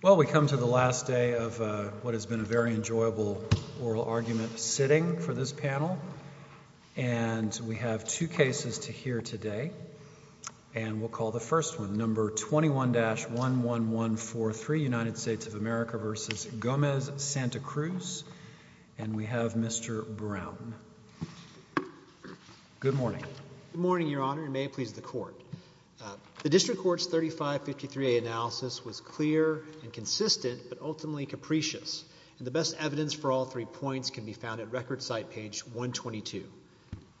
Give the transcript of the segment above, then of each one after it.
Well, we come to the last day of what has been a very enjoyable oral argument sitting for this panel, and we have two cases to hear today. And we'll call the first one, number 21-11143, United States of America v. Gomez-Santacruz. And we have Mr. Brown. Good morning. Good morning, Your Honor, and may it please the Court. The District Court's 3553A analysis was clear and consistent, but ultimately capricious. The best evidence for all three points can be found at Record Site page 122.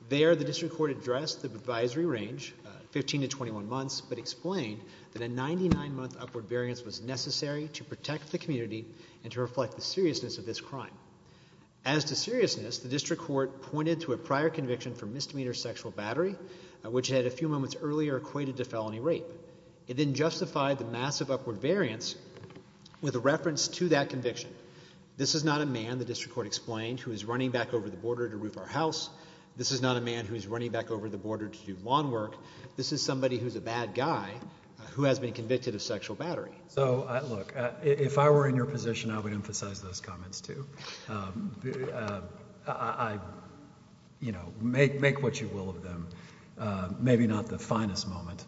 There, the District Court addressed the advisory range, 15 to 21 months, but explained that a 99-month upward variance was necessary to protect the community and to reflect the seriousness of this crime. As to seriousness, the District Court pointed to a prior conviction for misdemeanor sexual battery, which it had a few moments earlier equated to felony rape. It then justified the massive upward variance with a reference to that conviction. This is not a man, the District Court explained, who is running back over the border to roof our house. This is not a man who is running back over the border to do lawn work. This is somebody who's a bad guy who has been convicted of sexual battery. So look, if I were in your position, I would emphasize those comments, too. I, you know, make what you will of them. Maybe not the finest moment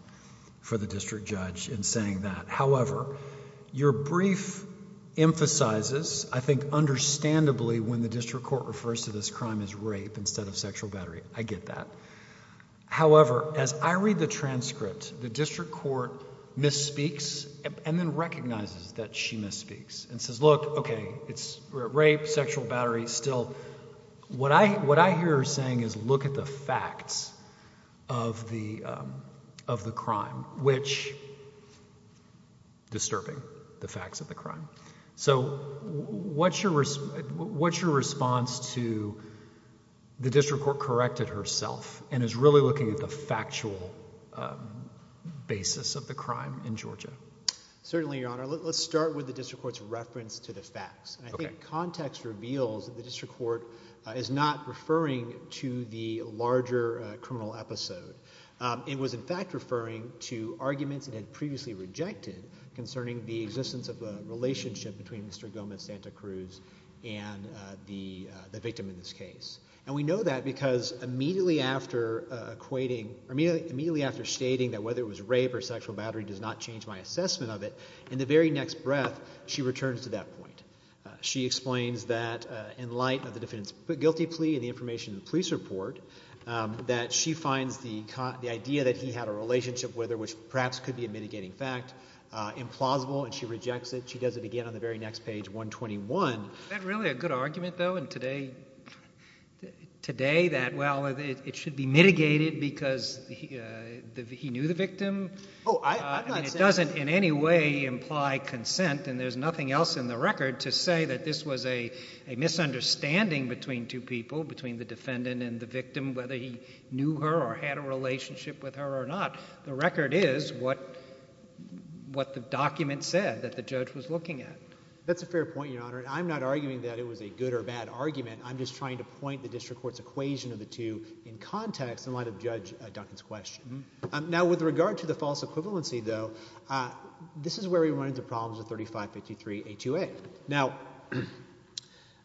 for the District Judge in saying that. However, your brief emphasizes, I think understandably, when the District Court refers to this crime as rape instead of sexual battery. I get that. However, as I read the transcript, the District Court misspeaks and then recognizes that she had sexual battery still. What I hear her saying is look at the facts of the crime, which disturbing, the facts of the crime. So what's your response to the District Court corrected herself and is really looking at the factual basis of the crime in Georgia? Certainly, Your Honor. Let's start with the District Court's reference to the facts. I think context reveals that the District Court is not referring to the larger criminal episode. It was, in fact, referring to arguments it had previously rejected concerning the existence of a relationship between Mr. Gomez Santa Cruz and the victim in this case. And we know that because immediately after stating that whether it was rape or sexual battery does not change my assessment of it, in the very next breath, she returns to that point. She explains that in light of the defendant's guilty plea and the information in the police report that she finds the idea that he had a relationship with her, which perhaps could be a mitigating fact, implausible, and she rejects it. She does it again on the very next page, 121. Is that really a good argument, though, in today that, well, it should be mitigated because he knew the victim? Oh, I'm not saying that. I'm saying it doesn't in any way imply consent, and there's nothing else in the record to say that this was a misunderstanding between two people, between the defendant and the victim, whether he knew her or had a relationship with her or not. The record is what the document said that the judge was looking at. That's a fair point, Your Honor. And I'm not arguing that it was a good or bad argument. I'm just trying to point the District Court's equation of the two in context in light of Judge Duncan's question. Now, with regard to the false equivalency, though, this is where we run into problems with 3553A2A. Now,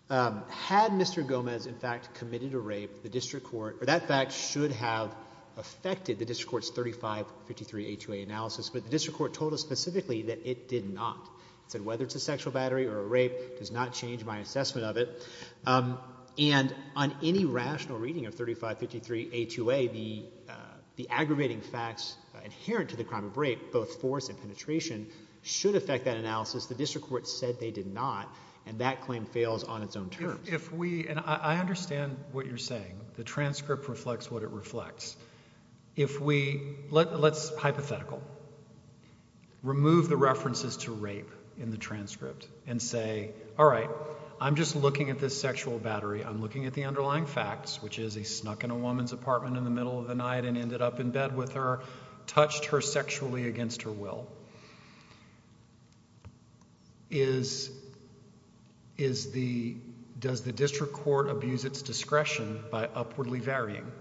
had Mr. Gomez, in fact, committed a rape, the District Court, or that fact should have affected the District Court's 3553A2A analysis, but the District Court told us specifically that it did not. It said whether it's a sexual battery or a rape does not change my assessment of it. And on any rational reading of 3553A2A, the aggravating facts inherent to the crime of rape, both force and penetration, should affect that analysis. The District Court said they did not, and that claim fails on its own terms. If we, and I understand what you're saying. The transcript reflects what it reflects. If we, let's hypothetical. Remove the references to rape in the transcript and say, all right, I'm just looking at this sexual battery. I'm looking at the underlying facts, which is he snuck in a woman's apartment in the middle of the night and ended up in bed with her, touched her sexually against her will. Does the District Court abuse its discretion by upwardly varying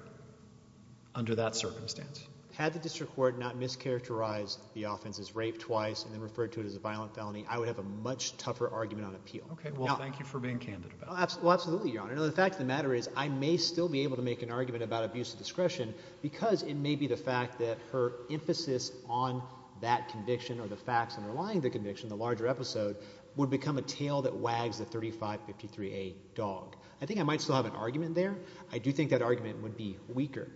under that circumstance? Had the District Court not mischaracterized the offense as rape twice and then referred to it as a violent felony, I would have a much tougher argument on appeal. Okay. Well, thank you for being candid. Well, absolutely, Your Honor. The fact of the matter is I may still be able to make an argument about abuse of discretion because it may be the fact that her emphasis on that conviction or the facts underlying the conviction, the larger episode, would become a tail that wags the 3553A dog. I think I might still have an argument there. I do think that argument would be weaker.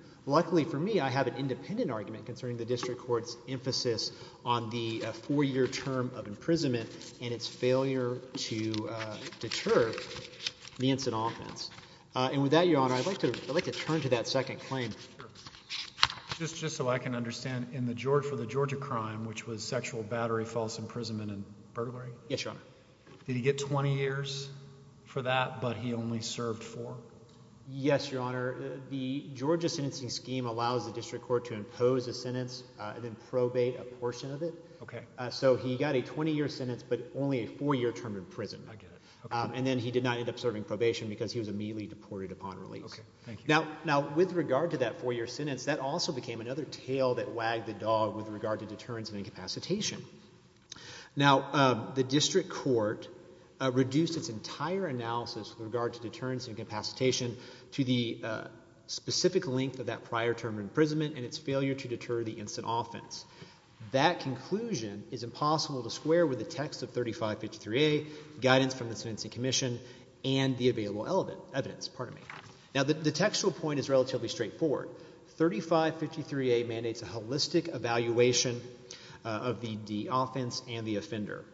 Yes, Your Honor, the Georgia sentencing scheme allows the District Court to impose a sentence and then probate a portion of it. Okay. So he got a 20-year sentence but only a four-year term in prison. I get it. Okay. And then he did not end up serving probation because he was immediately deported upon release. Okay. Thank you. Now, with regard to that four-year sentence, that also became another tail that wagged the dog with regard to deterrence and incapacitation. Now, the District Court reduced its entire analysis with regard to deterrence and incapacitation to the specific length of that prior term of imprisonment and its failure to deter the instant offense. That conclusion is impossible to square with the text of 3553A, guidance from the Sentencing Commission, and the available evidence. Now, the textual point is relatively straightforward. 3553A mandates a holistic evaluation of the offense and the offender.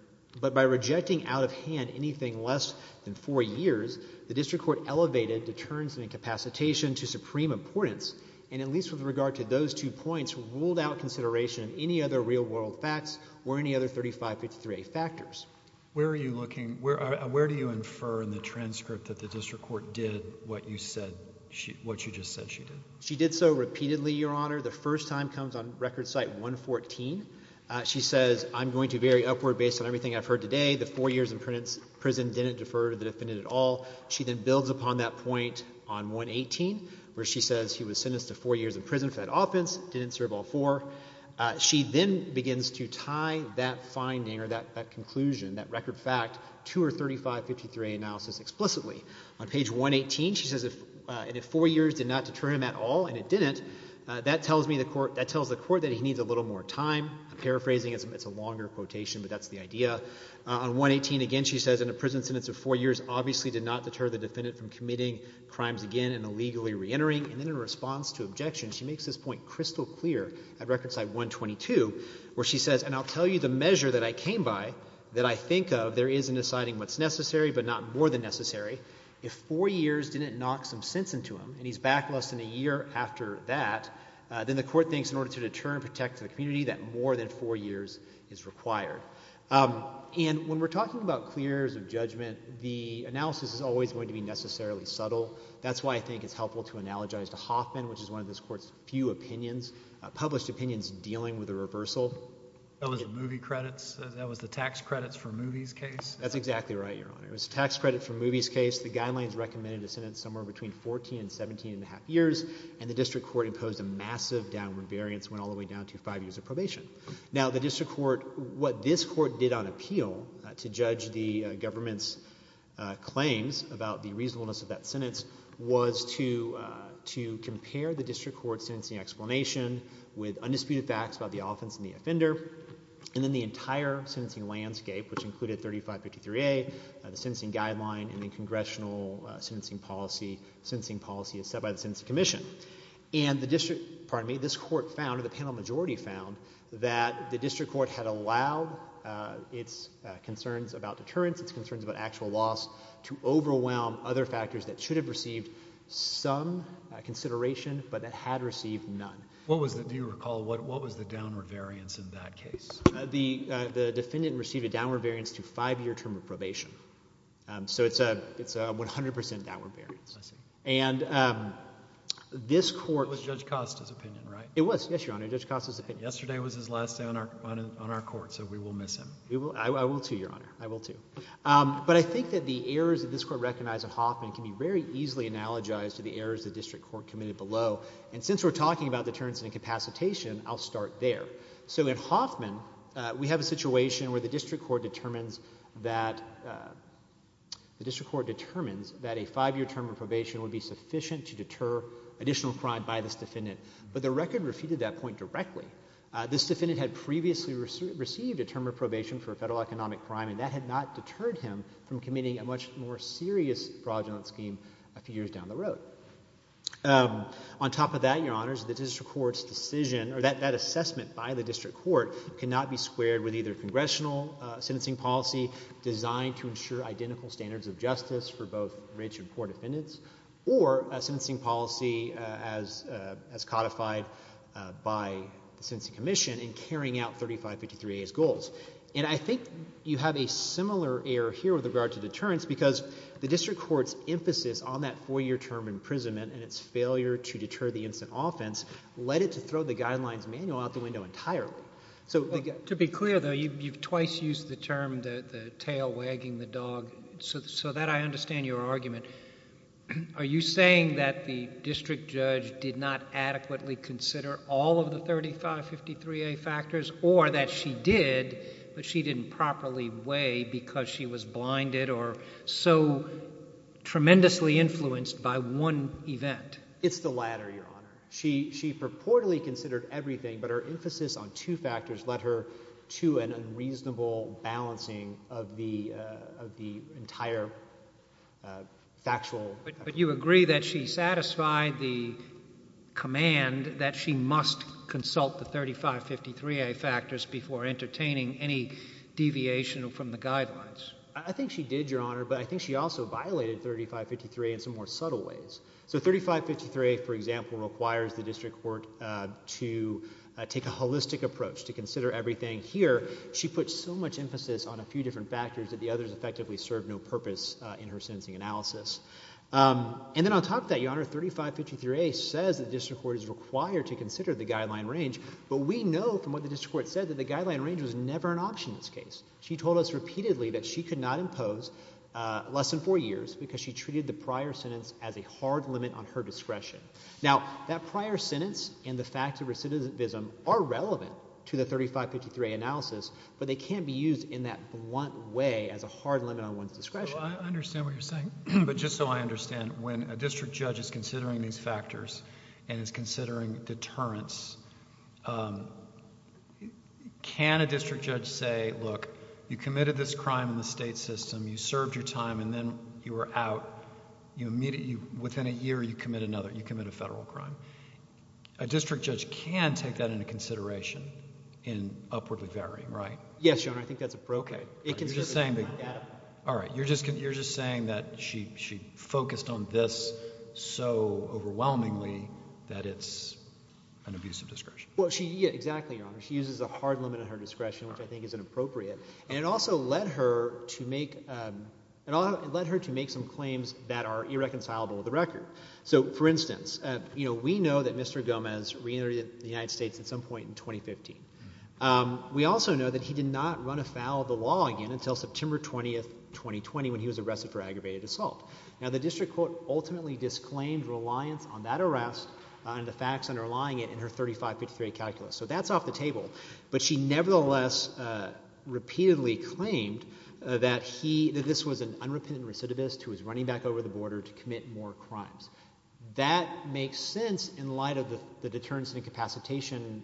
But by rejecting out of hand anything less than four years, the District Court elevated deterrence and incapacitation to supreme importance and, at least with regard to those two points, ruled out consideration of any other real-world facts or any other 3553A factors. Where are you looking – where do you infer in the transcript that the District Court did what you said – what you just said she did? She did so repeatedly, Your Honor. The first time comes on Record Site 114. She says, I'm going to vary upward based on everything I've heard today. The four years in prison didn't defer to the defendant at all. She then builds upon that point on 118, where she says he was sentenced to four years in prison for that offense, didn't serve all four. She then begins to tie that finding or that conclusion, that record fact, to her 3553A analysis explicitly. On page 118, she says, and if four years did not deter him at all, and it didn't, that tells me the court – that tells the court that he needs a little more time. I'm paraphrasing. It's a longer quotation, but that's the idea. On 118 again, she says, in a prison sentence of four years, obviously did not deter the defendant from committing crimes again and illegally reentering. And then in response to objections, she makes this point crystal clear at Record Site 122, where she says, and I'll tell you the measure that I came by, that I think of, there is in deciding what's necessary, but not more than necessary. If four years didn't knock some sense into him, and he's back less than a year after that, then the court thinks in order to deter and protect the community, that more than four years is required. And when we're talking about clear areas of judgment, the analysis is always going to be necessarily subtle. That's why I think it's helpful to analogize to Hoffman, which is one of this Court's few opinions, published opinions dealing with a reversal. That was the movie credits? That was the tax credits for movies case? That's exactly right, Your Honor. It was a tax credit for movies case. The guidelines recommended a sentence somewhere between 14 and 17 and a half years, and the district court imposed a massive downward variance, went all the way down to five years of probation. Now, the district court, what this court did on appeal to judge the government's claims about the reasonableness of that sentence was to compare the district court's sentencing explanation with undisputed facts about the offense and the offender, and then the entire sentencing landscape, which included 3553A, the sentencing guideline, and the congressional sentencing policy, sentencing policy as set by the Sentencing Commission. And the district, pardon me, this Court found, or the panel majority found, that the district court had allowed its concerns about deterrence, its concerns about actual loss, to overwhelm other factors that should have received some consideration, but that had received none. What was the, do you recall, what was the downward variance in that case? The defendant received a downward variance to five-year term of probation. So it's a 100 percent downward variance. I see. And this Court... It was Judge Costa's opinion, right? It was, yes, Your Honor, Judge Costa's opinion. Yesterday was his last day on our Court, so we will miss him. I will, too, Your Honor. I will, too. But I think that the errors that this Court recognized in Hoffman can be very easily analogized to the errors the district court committed below. And since we're talking about deterrence and incapacitation, I'll start there. So in Hoffman, we have a situation where the district court determines that a five-year term of probation would be sufficient to deter additional crime by this defendant. But the record refuted that point directly. This defendant had previously received a term of probation for a federal economic crime, and that had not deterred him from committing a much more serious fraudulent scheme a few years down the road. On top of that, Your Honors, the district court's decision, or that assessment by the district court, cannot be squared with either congressional sentencing policy designed to ensure identical standards of justice for both rich and poor defendants, or a sentencing policy as codified by the Sentencing Commission in carrying out 3553A's goals. And I think you have a similar error here with regard to deterrence because the district court's emphasis on that four-year term imprisonment and its failure to deter the instant offense led it to throw the Guidelines Manual out the window entirely. So the guy— To be clear, though, you've twice used the term the tail wagging the dog, so that I understand your argument. Are you saying that the district judge did not adequately consider all of the 3553A factors, or that she did, but she didn't properly weigh because she was blinded or so tremendously influenced by one event? It's the latter, Your Honor. She purportedly considered everything, but her emphasis on two factors led her to an unreasonable balancing of the entire factual— But you agree that she satisfied the command that she must consult the 3553A factors before entertaining any deviation from the guidelines? I think she did, Your Honor, but I think she also violated 3553A in some more subtle ways. So 3553A, for example, requires the district court to take a holistic approach to consider everything here. She put so much emphasis on a few different factors that the others effectively served no purpose in her sentencing analysis. And then on top of that, Your Honor, 3553A says the district court is required to consider the guideline range, but we know from what the district court said that the guideline range was never an option in this case. She told us repeatedly that she could not impose less than four years because she treated the prior sentence as a hard limit on her discretion. Now, that prior sentence and the fact of recidivism are relevant to the 3553A analysis, but they can't be used in that blunt way as a hard limit on one's discretion. Well, I understand what you're saying, but just so I understand, when a district judge is considering these factors and is considering deterrence, can a district judge say, look, you committed this crime in the state system, you served your time, and then you were out, you immediately, within a year, you commit another, you commit a federal crime? A district judge can take that into consideration in upwardly varying, right? Yes, Your Honor. I think that's a brocade. It can serve as a brocade. All right. You're just saying that she focused on this so overwhelmingly that it's an abuse of discretion. Well, exactly, Your Honor. She uses a hard limit on her discretion, which I think is inappropriate. And it also led her to make some claims that are irreconcilable with the record. So, for instance, we know that Mr. Gomez reentered the United States at some point in 2015. We also know that he did not run afoul of the law again until September 20, 2020, when he was arrested for aggravated assault. Now, the district court ultimately disclaimed reliance on that arrest and the facts underlying it in her 3553 calculus. So that's off the table. But she nevertheless repeatedly claimed that he, that this was an unrepentant recidivist who was running back over the border to commit more crimes. That makes sense in light of the deterrence and incapacitation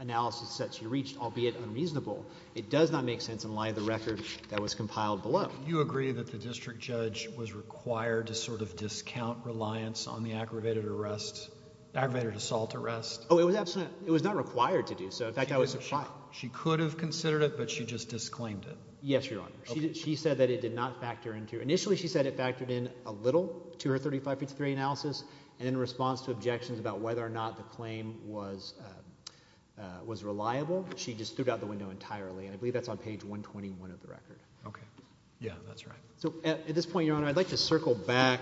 analysis that she reached, albeit unreasonable. It does not make sense in light of the record that was compiled below. Do you agree that the district judge was required to sort of discount reliance on the aggravated arrest, aggravated assault arrest? Oh, it was not required to do so. In fact, I was surprised. She could have considered it, but she just disclaimed it. Yes, Your Honor. She said that it did not factor into. Initially, she said it factored in a little to her 3553 analysis. And in response to objections about whether or not the claim was reliable, she just threw out the window entirely. And I believe that's on page 121 of the record. Okay. Yeah, that's right. So at this point, Your Honor, I'd like to circle back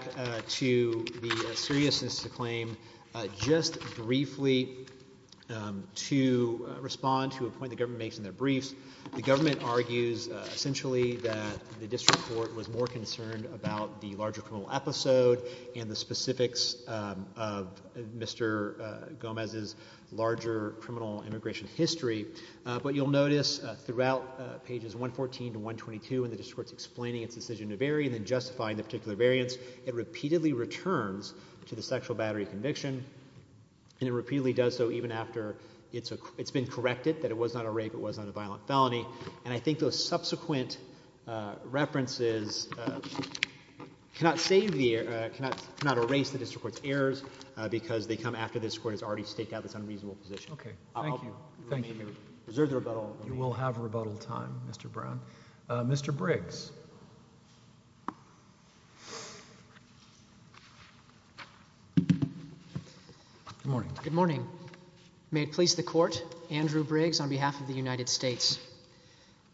to the seriousness of the claim. Just briefly, to respond to a point the government makes in their briefs, the government argues essentially that the district court was more concerned about the larger criminal episode and the specifics of Mr. Gomez's larger criminal immigration history. But you'll notice throughout pages 114 to 122 when the district court is explaining its decision to vary and then justifying the particular variance, it repeatedly returns to the sexual battery conviction, and it repeatedly does so even after it's been corrected that it was not a rape, it was not a violent felony. And I think those subsequent references cannot erase the district court's errors because they come after the district court has already staked out this unreasonable position. Okay. Thank you. Thank you. You will have rebuttal time, Mr. Brown. Mr. Briggs. Good morning. Good morning. May it please the court, Andrew Briggs on behalf of the United States.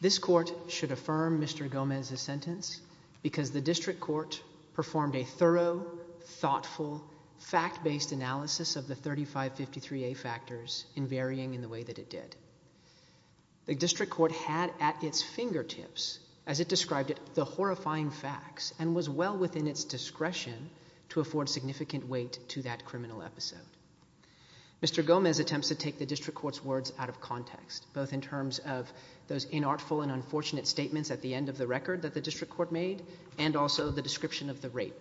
This court should affirm Mr. Gomez's sentence because the district court performed a thorough, thoughtful, fact-based analysis of the 3553A factors in varying in the way that it did. The district court had at its fingertips, as it described it, the horrifying facts and was well within its discretion to afford significant weight to that criminal episode. Mr. Gomez attempts to take the district court's words out of context, both in terms of those inartful and unfortunate statements at the end of the record that the district court made and also the description of the rape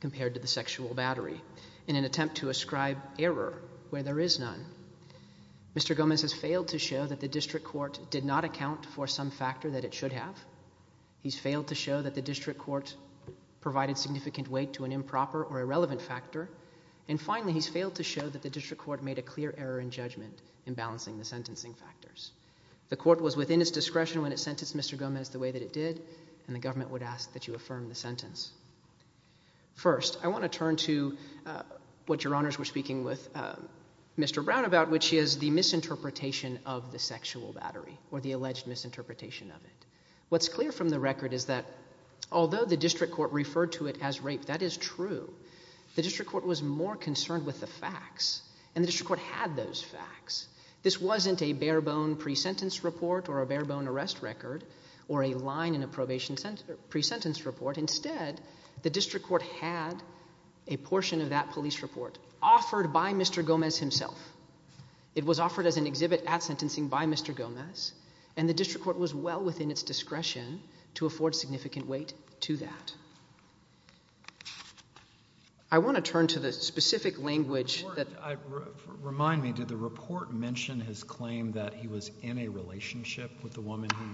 compared to the sexual battery in an attempt to ascribe error where there is none. Mr. Gomez has failed to show that the district court did not account for some factor that it should have. He's failed to show that the district court provided significant weight to an improper or irrelevant factor. And finally, he's failed to show that the district court made a clear error in judgment in balancing the sentencing factors. The court was within its discretion when it sentenced Mr. Gomez the way that it did, and the government would ask that you affirm the sentence. First, I want to turn to what Your Honors were speaking with Mr. Brown about, which is the misinterpretation of the sexual battery or the alleged misinterpretation of it. What's clear from the record is that although the district court referred to it as rape, that is true, the district court was more concerned with the facts, and the district court had those facts. This wasn't a barebone pre-sentence report or a barebone arrest record or a line in a probation pre-sentence report. Instead, the district court had a portion of that police report offered by Mr. Gomez himself. It was offered as an exhibit at sentencing by Mr. Gomez, and the district court was well within its discretion to afford significant weight to that. I want to turn to the specific language that- Remind me, did the report mention his claim that he was in a relationship with the woman who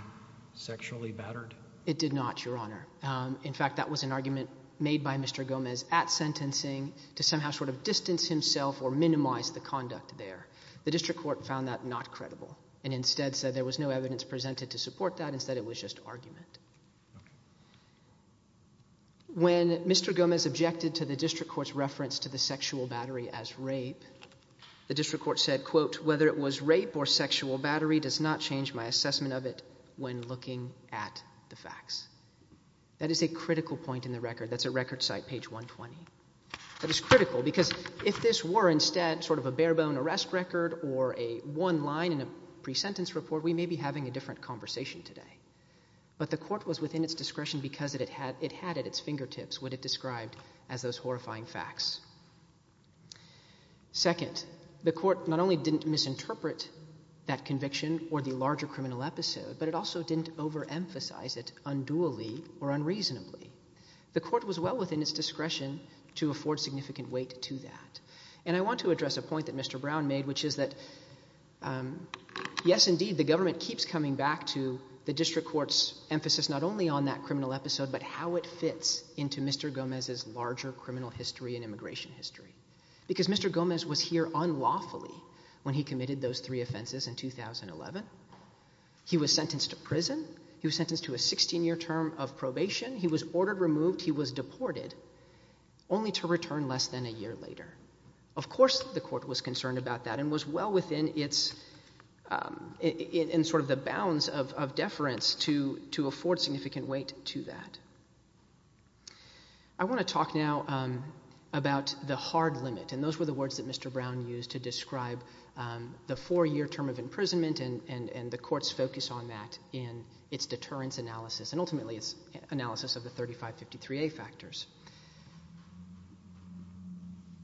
sexually battered? It did not, Your Honor. In fact, that was an argument made by Mr. Gomez at sentencing to somehow sort of distance himself or minimize the conduct there. The district court found that not credible and instead said there was no evidence presented to support that. Instead, it was just argument. When Mr. Gomez objected to the district court's reference to the sexual battery as rape, the district court said, quote, whether it was rape or sexual battery does not change my assessment of it when looking at the facts. That is a critical point in the record. That's at record site, page 120. That is critical because if this were instead sort of a barebone arrest record or a one line in a pre-sentence report, we may be having a different conversation today. But the court was within its discretion because it had at its fingertips what it described as those horrifying facts. Second, the court not only didn't misinterpret that conviction or the larger criminal episode, but it also didn't overemphasize it unduly or unreasonably. The court was well within its discretion to afford significant weight to that. And I want to address a point that Mr. Brown made, which is that, yes, indeed, the government keeps coming back to the district court's emphasis not only on that criminal episode, but how it fits into Mr. Gomez's larger criminal history and immigration history. Because Mr. Gomez was here unlawfully when he committed those three offenses in 2011. He was sentenced to prison. He was sentenced to a 16-year term of probation. He was ordered removed. He was deported, only to return less than a year later. Of course the court was concerned about that and was well within sort of the bounds of deference to afford significant weight to that. I want to talk now about the hard limit. And those were the words that Mr. Brown used to describe the four-year term of imprisonment and the court's focus on that in its deterrence analysis and ultimately its analysis of the 3553A factors.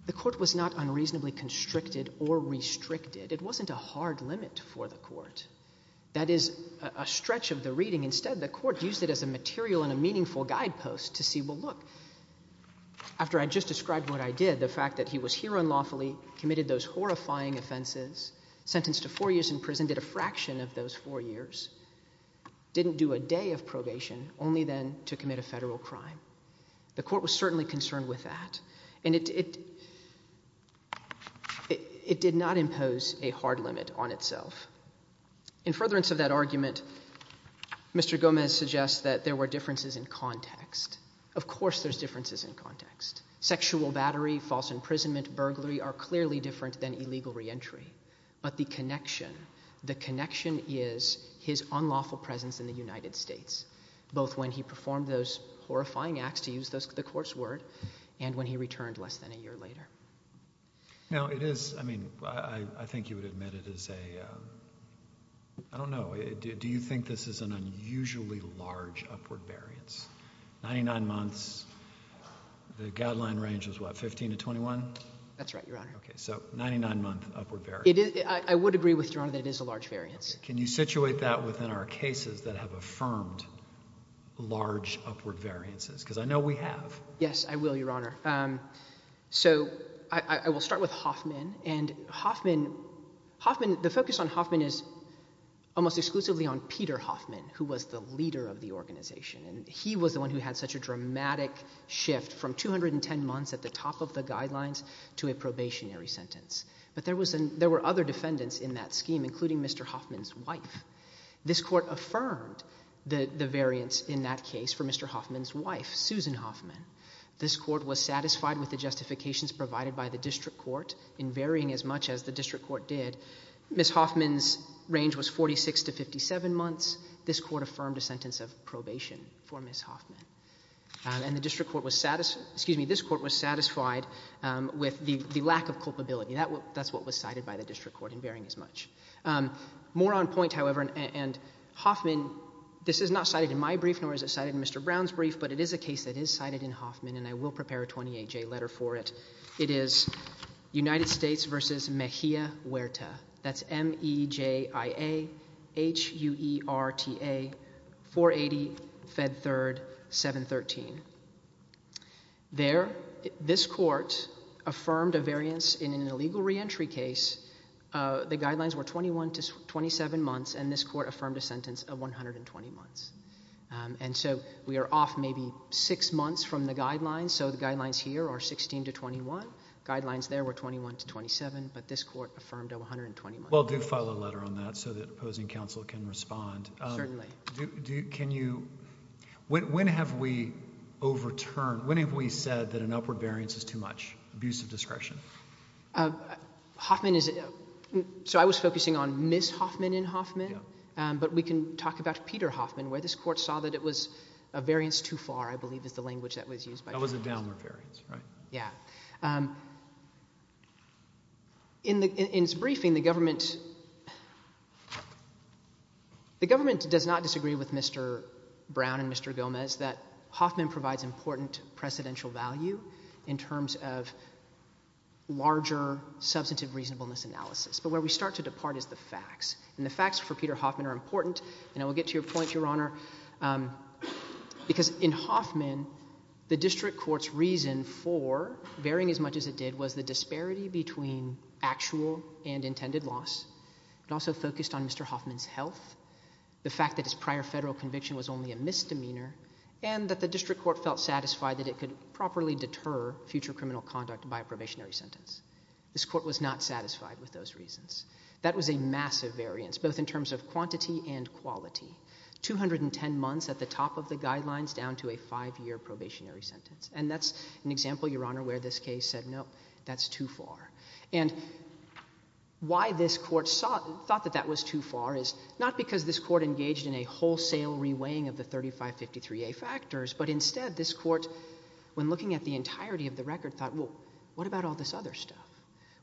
The court was not unreasonably constricted or restricted. It wasn't a hard limit for the court. That is a stretch of the reading. Instead, the court used it as a material and a meaningful guidepost to see, well, look, after I just described what I did, the fact that he was here unlawfully, committed those horrifying offenses, sentenced to four years in prison, did a fraction of those four years, didn't do a day of probation, only then to commit a federal crime. The court was certainly concerned with that. And it did not impose a hard limit on itself. In furtherance of that argument, Mr. Gomez suggests that there were differences in context. Of course there's differences in context. Sexual battery, false imprisonment, burglary are clearly different than illegal reentry. But the connection, the connection is his unlawful presence in the United States, both when he performed those horrifying acts, to use the court's word, and when he returned less than a year later. Now, it is, I mean, I think you would admit it is a, I don't know, do you think this is an unusually large upward variance? Ninety-nine months, the guideline range is what, 15 to 21? That's right, Your Honor. Okay, so 99-month upward variance. I would agree with Your Honor that it is a large variance. Can you situate that within our cases that have affirmed large upward variances? Because I know we have. Yes, I will, Your Honor. So I will start with Hoffman. And Hoffman, Hoffman, the focus on Hoffman is almost exclusively on Peter Hoffman, who was the leader of the organization. And he was the one who had such a dramatic shift from 210 months at the top of the guidelines to a probationary sentence. But there were other defendants in that scheme, including Mr. Hoffman's wife. This court affirmed the variance in that case for Mr. Hoffman's wife, Susan Hoffman. This court was satisfied with the justifications provided by the district court in varying as much as the district court did. Ms. Hoffman's range was 46 to 57 months. This court affirmed a sentence of probation for Ms. Hoffman. And this court was satisfied with the lack of culpability. That's what was cited by the district court in varying as much. More on point, however, and Hoffman, this is not cited in my brief, nor is it cited in Mr. Brown's brief, but it is a case that is cited in Hoffman, and I will prepare a 28-J letter for it. It is United States v. Mejia Huerta. That's M-E-J-I-A H-U-E-R-T-A 480 Fed Third 713. There, this court affirmed a variance in an illegal reentry case. The guidelines were 21 to 27 months, and this court affirmed a sentence of 120 months. And so we are off maybe six months from the guidelines, so the guidelines here are 16 to 21. Guidelines there were 21 to 27, but this court affirmed a 120-month period. Well, do file a letter on that so that opposing counsel can respond. Certainly. Can you – when have we overturned – when have we said that an upward variance is too much, abusive discretion? Hoffman is – so I was focusing on Ms. Hoffman in Hoffman, but we can talk about Peter Hoffman where this court saw that it was a variance too far, I believe, is the language that was used. That was a downward variance, right? Yeah. In its briefing, the government does not disagree with Mr. Brown and Mr. Gomez that Hoffman provides important precedential value in terms of larger substantive reasonableness analysis. But where we start to depart is the facts, and the facts for Peter Hoffman are important. And I will get to your point, Your Honor, because in Hoffman, the district court's reason for varying as much as it did was the disparity between actual and intended loss. It also focused on Mr. Hoffman's health, the fact that his prior federal conviction was only a misdemeanor, and that the district court felt satisfied that it could properly deter future criminal conduct by a probationary sentence. This court was not satisfied with those reasons. That was a massive variance, both in terms of quantity and quality, 210 months at the top of the guidelines down to a five-year probationary sentence. And that's an example, Your Honor, where this case said, no, that's too far. And why this court thought that that was too far is not because this court engaged in a wholesale reweighing of the 3553A factors, but instead this court, when looking at the entirety of the record, thought, well, what about all this other stuff?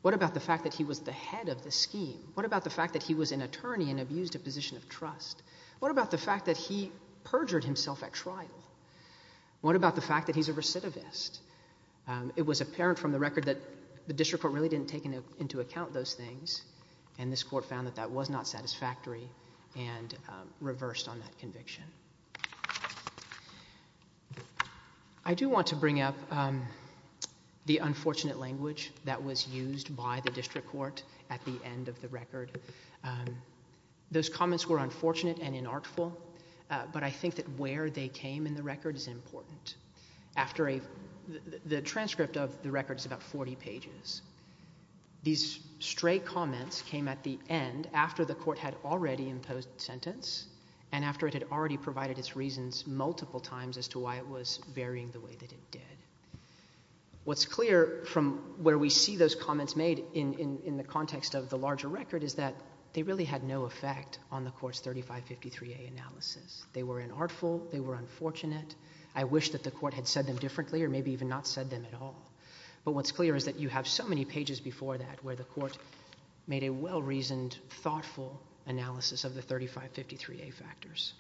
What about the fact that he was the head of the scheme? What about the fact that he was an attorney and abused a position of trust? What about the fact that he perjured himself at trial? What about the fact that he's a recidivist? It was apparent from the record that the district court really didn't take into account those things, and this court found that that was not satisfactory and reversed on that conviction. I do want to bring up the unfortunate language that was used by the district court at the end of the record. Those comments were unfortunate and inartful, but I think that where they came in the record is important. The transcript of the record is about 40 pages. These stray comments came at the end after the court had already imposed the sentence and after it had already provided its reasons multiple times as to why it was varying the way that it did. What's clear from where we see those comments made in the context of the larger record is that they really had no effect on the court's 3553A analysis. They were inartful. They were unfortunate. I wish that the court had said them differently or maybe even not said them at all. But what's clear is that you have so many pages before that where the court made a well-reasoned, thoughtful analysis of the 3553A factors.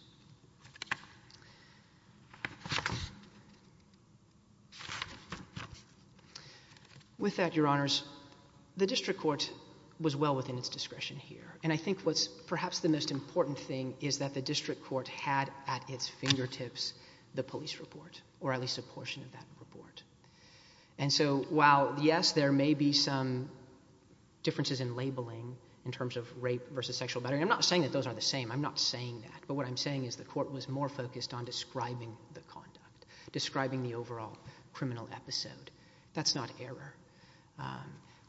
With that, Your Honors, the district court was well within its discretion here, and I think what's perhaps the most important thing is that the district court had at its fingertips the police report, or at least a portion of that report. And so while, yes, there may be some differences in labeling in terms of rape versus sexual battery, I'm not saying that those are the same. I'm not saying that. But what I'm saying is the court was more focused on describing the conduct, describing the overall criminal episode. That's not error.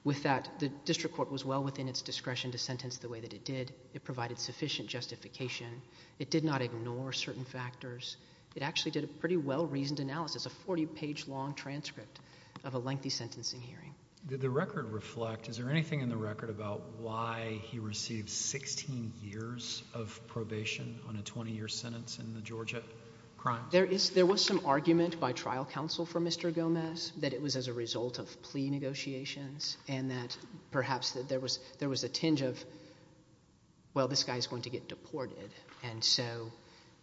With that, the district court was well within its discretion to sentence the way that it did. It provided sufficient justification. It did not ignore certain factors. It actually did a pretty well-reasoned analysis, a 40-page long transcript of a lengthy sentencing hearing. Did the record reflect, is there anything in the record about why he received 16 years of probation on a 20-year sentence in the Georgia crimes? There was some argument by trial counsel for Mr. Gomez that it was as a result of plea negotiations and that perhaps there was a tinge of, well, this guy is going to get deported, and so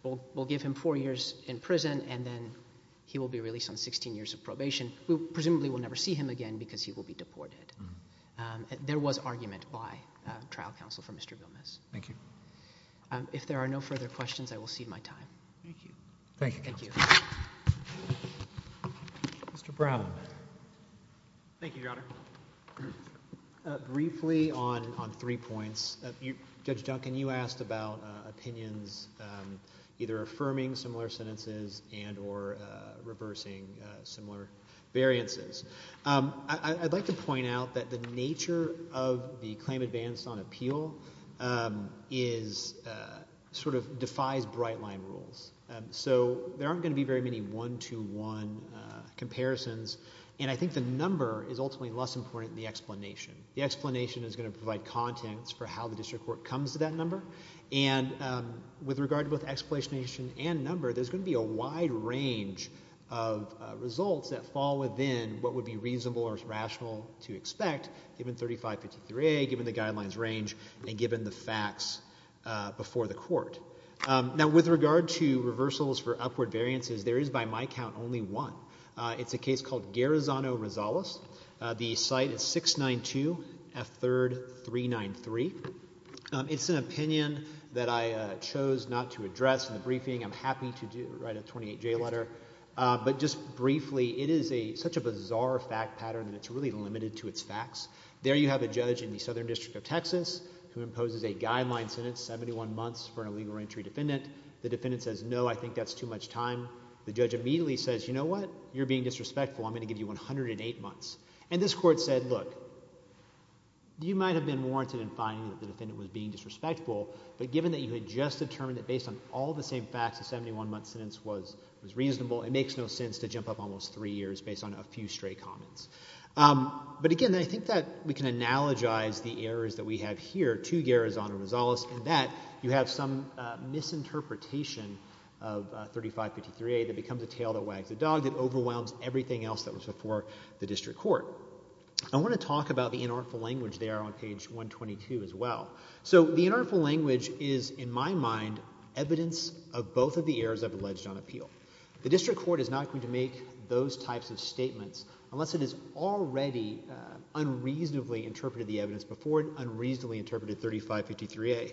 we'll give him four years in prison and then he will be released on 16 years of probation. Presumably we'll never see him again because he will be deported. There was argument by trial counsel for Mr. Gomez. Thank you. If there are no further questions, I will cede my time. Thank you. Thank you, counsel. Thank you. Mr. Brown. Thank you, Your Honor. Briefly on three points, Judge Duncan, you asked about opinions either affirming similar sentences and or reversing similar variances. I'd like to point out that the nature of the claim advanced on appeal is sort of defies bright-line rules. So there aren't going to be very many one-to-one comparisons, and I think the number is ultimately less important than the explanation. The explanation is going to provide contents for how the district court comes to that number, and with regard to both explanation and number, there's going to be a wide range of results that fall within what would be reasonable or rational to expect given 3553A, given the guidelines range, and given the facts before the court. Now, with regard to reversals for upward variances, there is by my count only one. It's a case called Garazano-Rosales. The site is 692 F3rd 393. It's an opinion that I chose not to address in the briefing. I'm happy to write a 28-J letter. But just briefly, it is such a bizarre fact pattern that it's really limited to its facts. There you have a judge in the Southern District of Texas who imposes a guideline sentence, 71 months, for an illegal entry defendant. The defendant says, no, I think that's too much time. The judge immediately says, you know what, you're being disrespectful. I'm going to give you 108 months. And this court said, look, you might have been warranted in finding that the defendant was being disrespectful, but given that you had just determined that based on all the same facts a 71-month sentence was reasonable, it makes no sense to jump up almost three years based on a few stray comments. But, again, I think that we can analogize the errors that we have here to Garazano-Rosales in that you have some misinterpretation of 3553A that becomes a tail that wags the dog that overwhelms everything else that was before the district court. I want to talk about the inartful language there on page 122 as well. So the inartful language is, in my mind, evidence of both of the errors I've alleged on appeal. The district court is not going to make those types of statements unless it has already unreasonably interpreted the evidence before it unreasonably interpreted 3553A.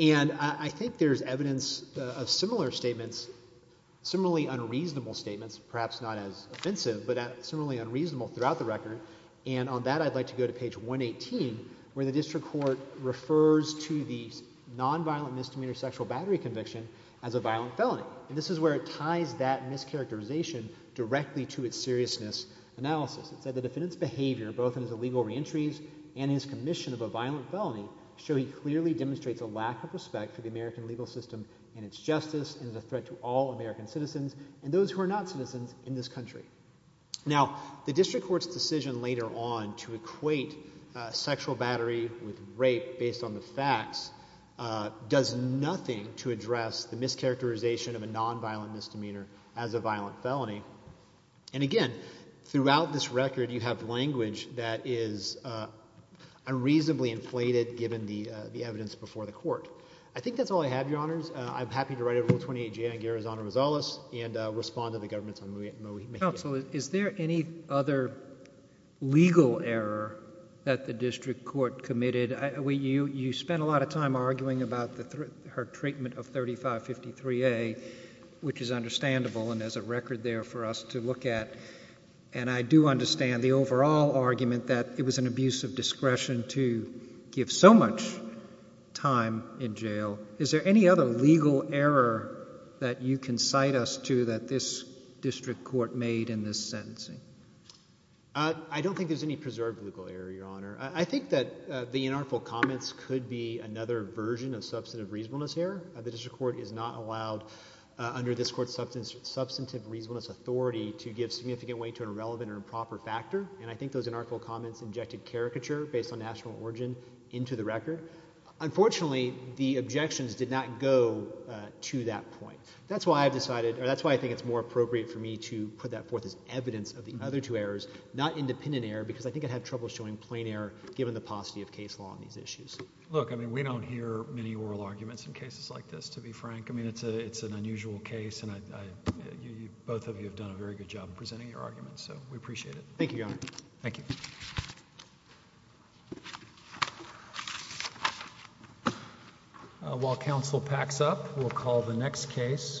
And I think there's evidence of similar statements, similarly unreasonable statements, perhaps not as offensive, but similarly unreasonable throughout the record, and on that I'd like to go to page 118 where the district court refers to the nonviolent misdemeanor sexual battery conviction as a violent felony. And this is where it ties that mischaracterization directly to its seriousness analysis. It said the defendant's behavior, both in his illegal reentries and his commission of a violent felony, show he clearly demonstrates a lack of respect for the American legal system and its justice and is a threat to all American citizens and those who are not citizens in this country. Now, the district court's decision later on to equate sexual battery with rape based on the facts does nothing to address the mischaracterization of a nonviolent misdemeanor as a violent felony. And, again, throughout this record you have language that is unreasonably inflated given the evidence before the court. I think that's all I have, Your Honors. I'm happy to write over Rule 28J on Guerra's honor misalice and respond to the government's on Moe Mahan. Counsel, is there any other legal error that the district court committed? You spent a lot of time arguing about her treatment of 3553A, which is understandable and there's a record there for us to look at. And I do understand the overall argument that it was an abuse of discretion to give so much time in jail. Is there any other legal error that you can cite us to that this district court made in this sentencing? I don't think there's any preserved legal error, Your Honor. I think that the inarticulate comments could be another version of substantive reasonableness error. The district court is not allowed under this court's substantive reasonableness authority to give significant weight to an irrelevant or improper factor. And I think those inarticulate comments injected caricature based on national origin into the record. Unfortunately, the objections did not go to that point. That's why I've decided – or that's why I think it's more appropriate for me to put that forth as evidence of the other two errors, not independent error because I think I'd have trouble showing plain error given the paucity of case law on these issues. Look, I mean, we don't hear many oral arguments in cases like this, to be frank. I mean, it's an unusual case, and both of you have done a very good job in presenting your arguments. So we appreciate it. Thank you, Your Honor. Thank you. While counsel packs up, we'll call the next case.